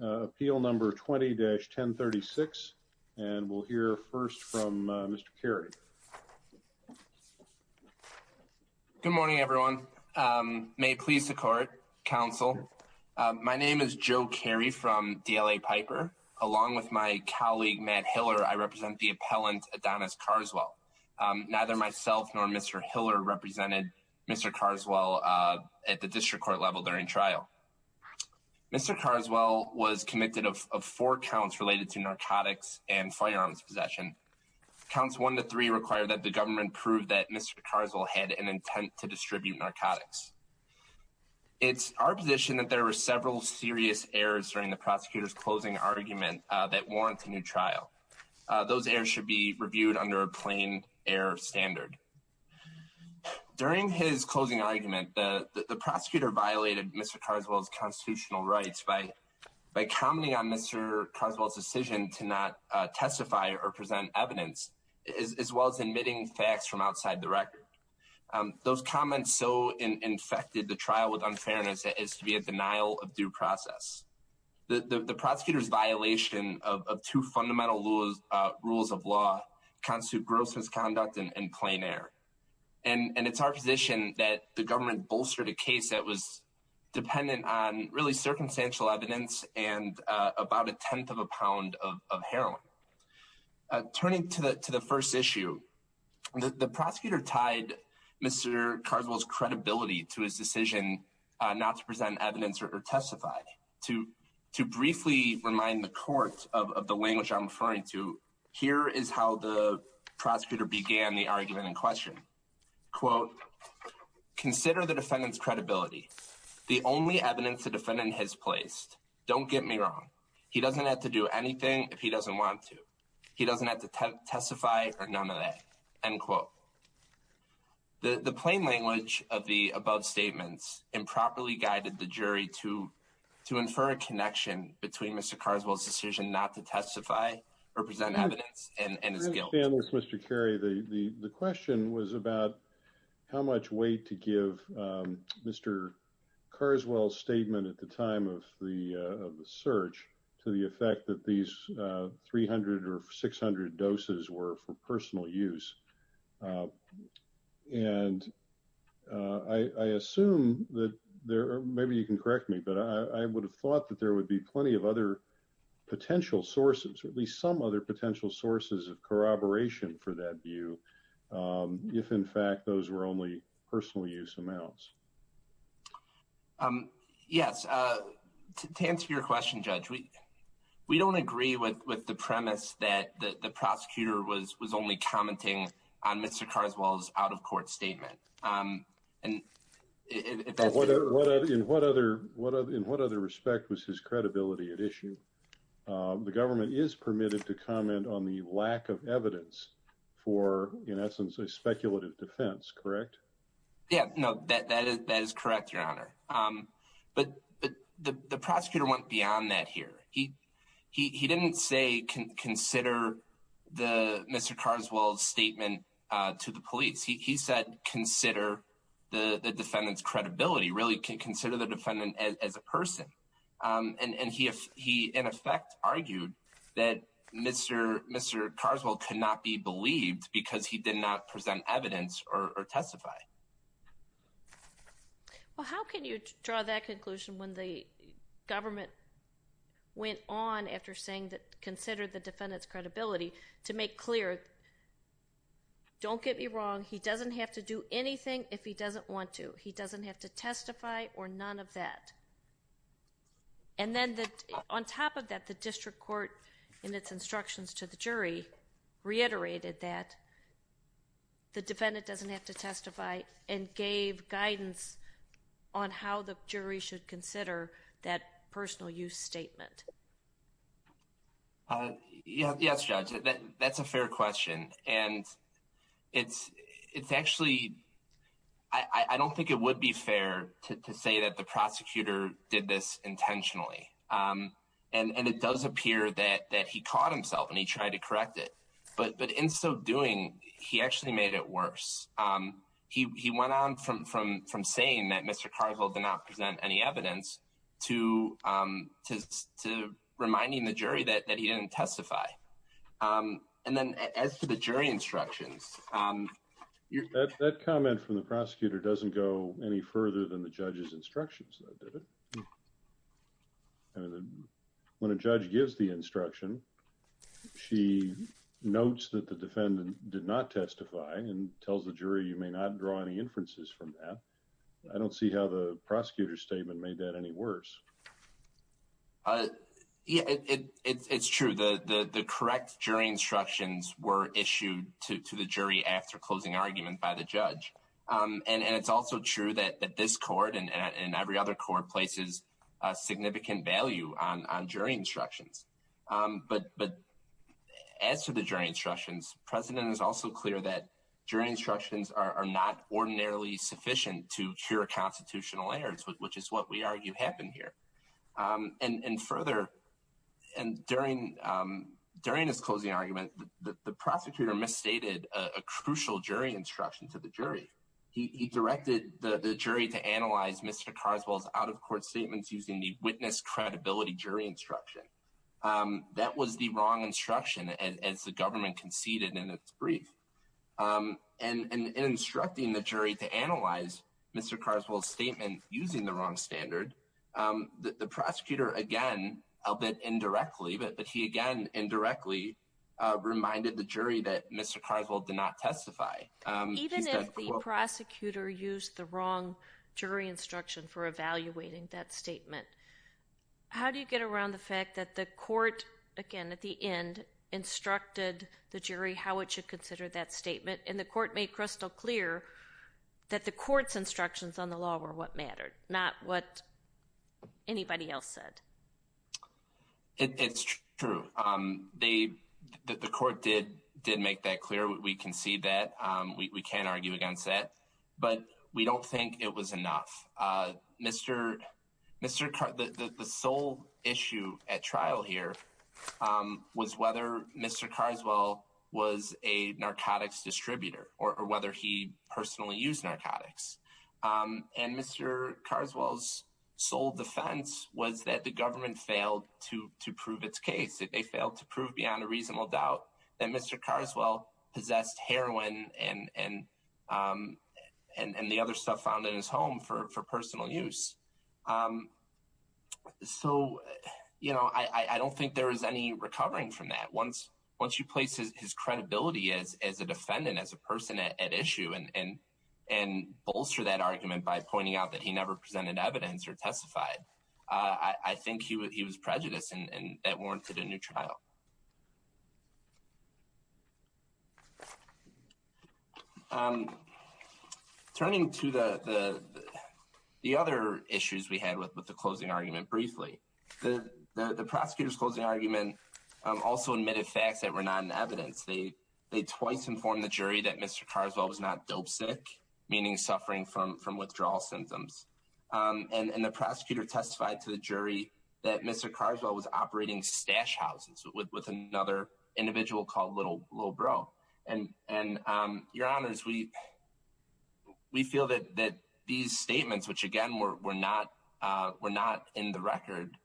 Appeal number 20-1036. And we'll hear first from Mr. Carey. Good morning, everyone. May it please the court, counsel. My name is Joe Carey from DLA Piper. Along with my colleague Matt Hiller, I represent the appellant Adonis Carswell. Neither myself nor Mr. Hiller represented Mr. Carswell at the district court level during trial. Mr. Carswell was committed of four counts related to narcotics and firearms possession. Counts one to three require that the government prove that Mr. Carswell had an intent to distribute narcotics. It's our position that there were several serious errors during the prosecutor's closing argument that warrant a new trial. Those errors should be reviewed under a plain error standard. During his closing argument, the prosecutor violated Mr. Carswell's constitutional rights by commenting on Mr. Carswell's decision to not testify or present evidence, as well as admitting facts from outside the record. Those comments so infected the trial with unfairness that it is to be a denial of due process. The prosecutor's violation of two fundamental rules of law constitute gross misconduct and plain error. And it's our position that the government bolstered a case that was dependent on really circumstantial evidence and about a tenth of a pound of heroin. Turning to the first issue, the prosecutor tied Mr. Carswell's credibility to his decision not to present evidence or testify. To briefly remind the court of the language I'm referring to, here is how the prosecutor began the argument in question. Quote, consider the defendant's credibility. The only evidence the defendant has placed. Don't get me wrong. He doesn't have to do anything if he doesn't want to. He doesn't have to testify or none of that. End quote. The plain language of the above statements improperly guided the jury to infer a connection between Mr. Carswell's decision not to testify or present evidence and his guilt. Thank you, Mr. Carrie. The question was about how much weight to give Mr. Carswell's statement at the time of the search to the effect that these 300 or 600 doses were for personal use. And I assume that there are maybe you can correct me, but I would have thought that there would be plenty of other potential sources or at least some other potential sources of corroboration for that view. If, in fact, those were only personal use amounts. Yes, to answer your question, Judge, we don't agree with the premise that the prosecutor was was only commenting on Mr. Carswell's out of court statement. And in what other in what other respect was his credibility at issue? The government is permitted to comment on the lack of evidence for, in essence, a speculative defense. Correct? Yeah, no, that is correct, Your Honor. But the prosecutor went beyond that here. He he didn't say consider the Mr. Carswell's statement to the police. He said consider the defendant's credibility, really consider the defendant as a person. And he he, in effect, argued that Mr. Mr. Carswell could not be believed because he did not present evidence or testify. Well, how can you draw that conclusion when the government went on after saying that consider the defendant's credibility to make clear? Don't get me wrong. He doesn't have to do anything if he doesn't want to. He doesn't have to testify or none of that. And then on top of that, the district court, in its instructions to the jury, reiterated that the defendant doesn't have to testify and gave guidance on how the jury should consider that personal use statement. Yes, judge. That's a fair question. And it's it's actually I don't think it would be fair to say that the prosecutor did this intentionally. And it does appear that that he caught himself and he tried to correct it. But but in so doing, he actually made it worse. He went on from from from saying that Mr. Carswell did not present any evidence to to to reminding the jury that that he didn't testify. And then as for the jury instructions, that comment from the prosecutor doesn't go any further than the judge's instructions. When a judge gives the instruction, she notes that the defendant did not testify and tells the jury, you may not draw any inferences from that. I don't see how the prosecutor's statement made that any worse. Yeah, it's true that the correct jury instructions were issued to the jury after closing argument by the judge. And it's also true that this court and every other court places a significant value on jury instructions. But but as to the jury instructions, President is also clear that jury instructions are not ordinarily sufficient to cure constitutional errors, which is what we argue happened here. And further, and during during his closing argument, the prosecutor misstated a crucial jury instruction to the jury. He directed the jury to analyze Mr. Carswell's out-of-court statements using the witness credibility jury instruction. That was the wrong instruction as the government conceded in its brief and instructing the jury to analyze Mr. Carswell's statement using the wrong standard. The prosecutor, again, a bit indirectly, but he again indirectly reminded the jury that Mr. Carswell did not testify. Even if the prosecutor used the wrong jury instruction for evaluating that statement, how do you get around the fact that the court again at the end instructed the jury how it should consider that statement? And the court made crystal clear that the court's instructions on the law were what mattered, not what anybody else said. It's true. They the court did did make that clear. We can see that we can't argue against that, but we don't think it was enough. Mr. Mr. The sole issue at trial here was whether Mr. Carswell was a narcotics distributor or whether he personally used narcotics. And Mr. Carswell's sole defense was that the government failed to prove its case. They failed to prove beyond a reasonable doubt that Mr. Carswell possessed heroin and and and the other stuff found in his home for personal use. So, you know, I don't think there is any recovering from that. I think that once once you place his credibility as as a defendant, as a person at issue and and and bolster that argument by pointing out that he never presented evidence or testified, I think he was he was prejudiced and that warranted a new trial. I'm turning to the the the other issues we had with the closing argument briefly. The prosecutor's closing argument also admitted facts that were not in evidence. They they twice informed the jury that Mr. Carswell was not dope sick, meaning suffering from from withdrawal symptoms. And the prosecutor testified to the jury that Mr. Carswell was operating stash houses with another individual called Little Bro. And and your honors, we we feel that that these statements, which, again, we're not we're not in the record.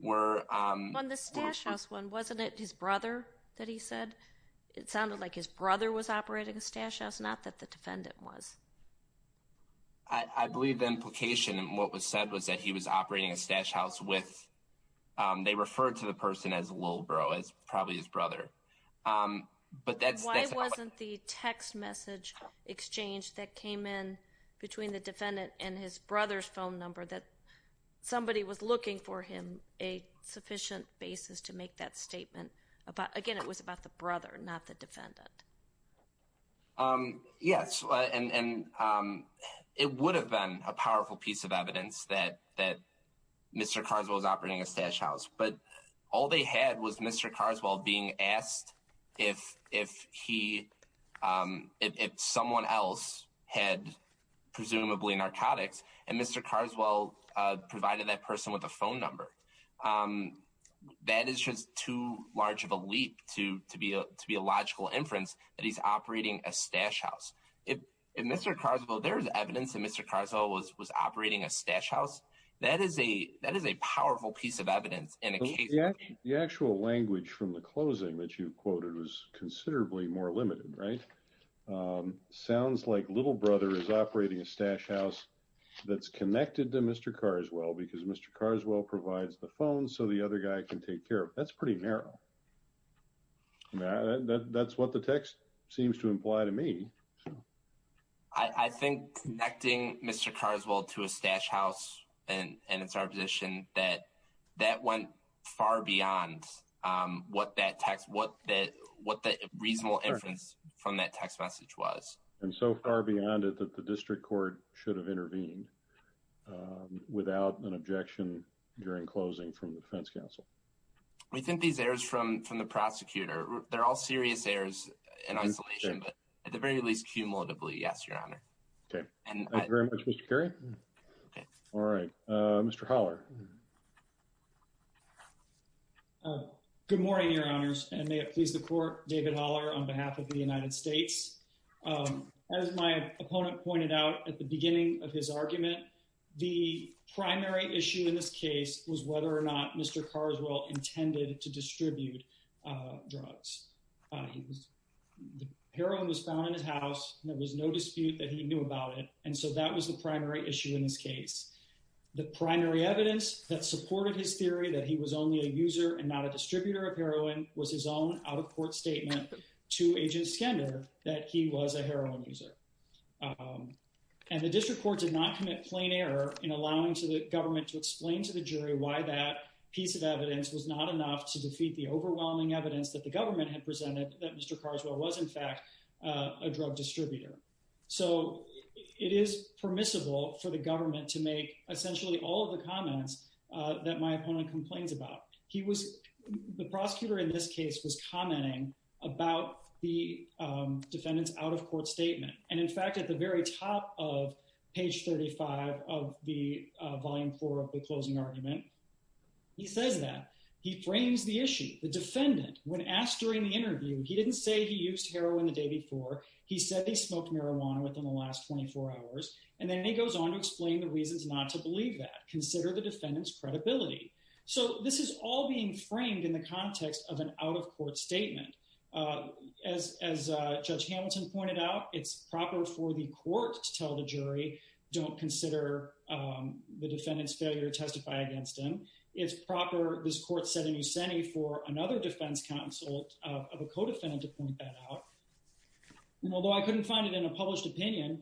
We're on the stash house when wasn't it his brother that he said it sounded like his brother was operating a stash house, not that the defendant was. I believe the implication and what was said was that he was operating a stash house with they referred to the person as a little bro is probably his brother. But that's why it wasn't the text message exchange that came in between the defendant and his brother's phone number, that somebody was looking for him a sufficient basis to make that statement about. Again, it was about the brother, not the defendant. Yes. And it would have been a powerful piece of evidence that that Mr. Carswell was operating a stash house, but all they had was Mr. Carswell being asked if if he if someone else had presumably narcotics and Mr. Carswell provided that person with a phone number. That is just too large of a leap to to be to be a logical inference that he's operating a stash house in Mr. Carswell. There's evidence that Mr. Carswell was was operating a stash house. That is a that is a powerful piece of evidence. And the actual language from the closing that you quoted was considerably more limited. Sounds like little brother is operating a stash house that's connected to Mr. Carswell because Mr. Carswell provides the phone so the other guy can take care of. That's pretty narrow. That's what the text seems to imply to me. I think connecting Mr. Carswell to a stash house and it's our position that that went far beyond what that text, what that what the reasonable inference from that text message was. And so far beyond it, that the district court should have intervened without an objection during closing from the defense counsel. We think these errors from from the prosecutor. They're all serious errors in isolation, but at the very least, cumulatively. Yes, Your Honor. Okay. Thank you very much, Mr. Kerry. All right. Mr. Holler. Good morning, Your Honors. And may it please the court. David Holler on behalf of the United States. As my opponent pointed out at the beginning of his argument, the primary issue in this case was whether or not Mr. Carswell intended to distribute drugs. Heroin was found in his house. There was no dispute that he knew about it. And so that was the primary issue in this case. The primary evidence that supported his theory that he was only a user and not a distributor of heroin was his own out-of-court statement to Agent Skender that he was a heroin user. And the district court did not commit plain error in allowing the government to explain to the jury why that piece of evidence was not enough to defeat the overwhelming evidence that the government had presented that Mr. Carswell was, in fact, a drug distributor. So it is permissible for the government to make essentially all of the comments that my opponent complains about. The prosecutor in this case was commenting about the defendant's out-of-court statement. And in fact, at the very top of page 35 of the Volume 4 of the closing argument, he says that. He frames the issue. The defendant, when asked during the interview, he didn't say he used heroin the day before. He said he smoked marijuana within the last 24 hours. And then he goes on to explain the reasons not to believe that. Consider the defendant's credibility. So this is all being framed in the context of an out-of-court statement. As Judge Hamilton pointed out, it's proper for the court to tell the jury, don't consider the defendant's failure to testify against him. It's proper, this court said in Yuseni, for another defense counsel of a co-defendant to point that out. Although I couldn't find it in a published opinion,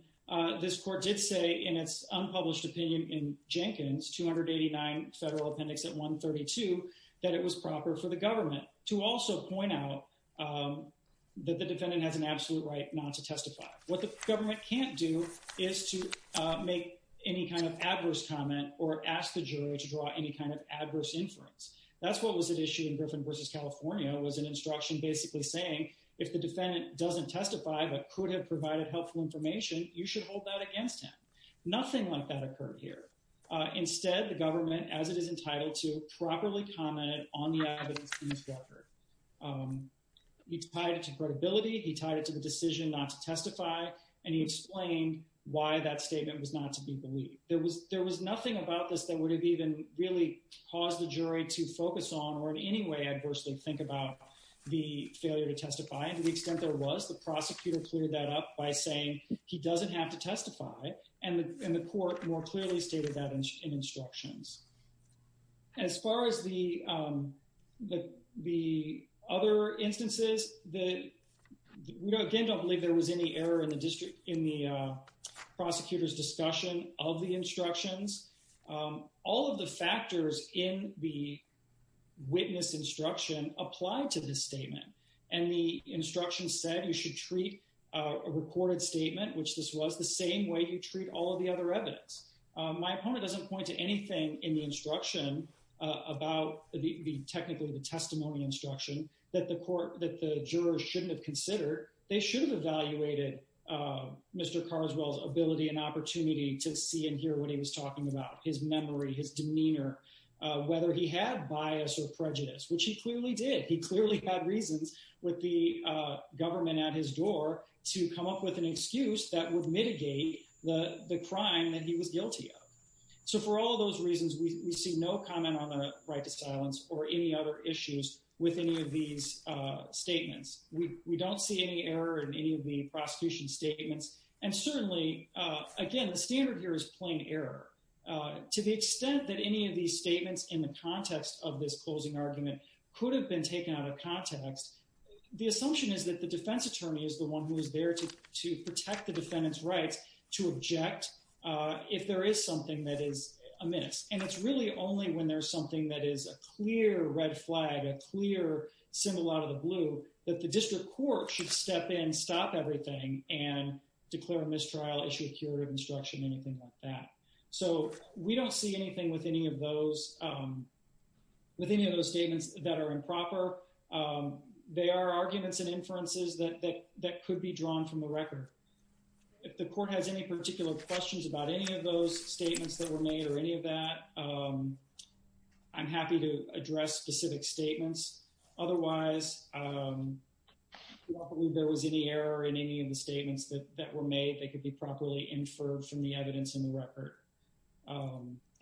this court did say in its unpublished opinion in Jenkins, 289 Federal Appendix at 132, that it was proper for the government to also point out that the defendant has an absolute right not to testify. What the government can't do is to make any kind of adverse comment or ask the jury to draw any kind of adverse inference. That's what was at issue in Griffin v. California was an instruction basically saying, if the defendant doesn't testify but could have provided helpful information, you should hold that against him. Nothing like that occurred here. Instead, the government, as it is entitled to, properly commented on the evidence in this record. He tied it to credibility, he tied it to the decision not to testify, and he explained why that statement was not to be believed. There was nothing about this that would have even really caused the jury to focus on or in any way adversely think about the failure to testify. To the extent there was, the prosecutor cleared that up by saying he doesn't have to testify. And the court more clearly stated that in instructions. As far as the other instances, we again don't believe there was any error in the prosecutor's discussion of the instructions. All of the factors in the witness instruction apply to this statement. And the instruction said you should treat a recorded statement, which this was, the same way you treat all of the other evidence. My opponent doesn't point to anything in the instruction about technically the testimony instruction that the jurors shouldn't have considered. They should have evaluated Mr. Carswell's ability and opportunity to see and hear what he was talking about. His memory, his demeanor, whether he had bias or prejudice, which he clearly did. He clearly had reasons with the government at his door to come up with an excuse that would mitigate the crime that he was guilty of. So for all of those reasons, we see no comment on the right to silence or any other issues with any of these statements. We don't see any error in any of the prosecution statements. And certainly, again, the standard here is plain error. To the extent that any of these statements in the context of this closing argument could have been taken out of context, the assumption is that the defense attorney is the one who is there to protect the defendant's rights to object if there is something that is amiss. And it's really only when there's something that is a clear red flag, a clear symbol out of the blue, that the district court should step in, stop everything, and declare a mistrial, issue a curative instruction, anything like that. So we don't see anything with any of those statements that are improper. They are arguments and inferences that could be drawn from the record. If the court has any particular questions about any of those statements that were made or any of that, I'm happy to address specific statements. Otherwise, I don't believe there was any error in any of the statements that were made. They could be properly inferred from the evidence in the record.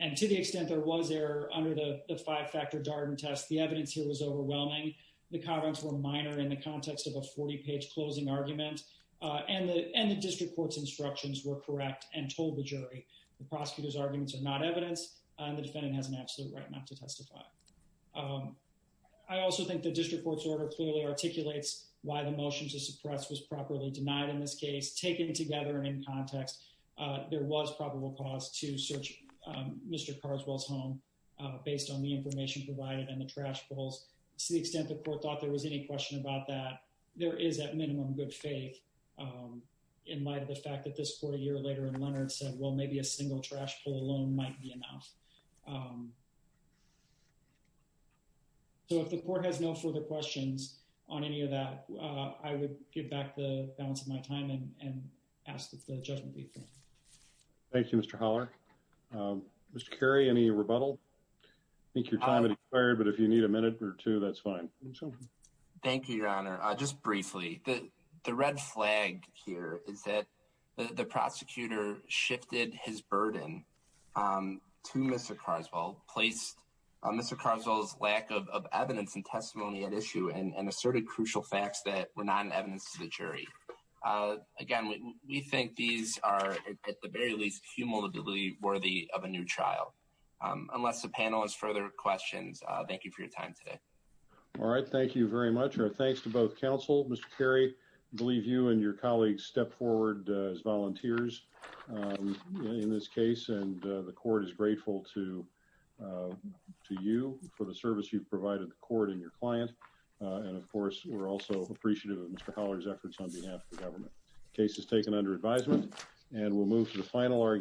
And to the extent there was error under the five-factor Darden test, the evidence here was overwhelming. The comments were minor in the context of a 40-page closing argument, and the district court's instructions were correct and told the jury. The prosecutor's arguments are not evidence, and the defendant has an absolute right not to testify. I also think the district court's order clearly articulates why the motion to suppress was properly denied in this case. Taken together and in context, there was probable cause to search Mr. Carswell's home based on the information provided and the trash pulls. To the extent the court thought there was any question about that, there is at minimum good faith in light of the fact that this court a year later in Leonard said, well, maybe a single trash pull alone might be enough. So if the court has no further questions on any of that, I would give back the balance of my time and ask that the judgment be affirmed. Thank you, Mr. Holler. Mr. Cary, any rebuttal? I think your time has expired, but if you need a minute or two, that's fine. Thank you, Your Honor. Just briefly, the red flag here is that the prosecutor shifted his burden to Mr. Carswell, placed Mr. Carswell's lack of evidence and testimony at issue and asserted crucial facts that were not evidence to the jury. Again, we think these are at the very least humility worthy of a new trial. Unless the panel has further questions. Thank you for your time today. All right. Thank you very much. Our thanks to both counsel, Mr. Cary. I believe you and your colleagues step forward as volunteers in this case, and the court is grateful to you for the service you've provided the court and your client. And of course, we're also appreciative of Mr. Holler's efforts on behalf of the government. Case is taken under advisement and we'll move to the final argument.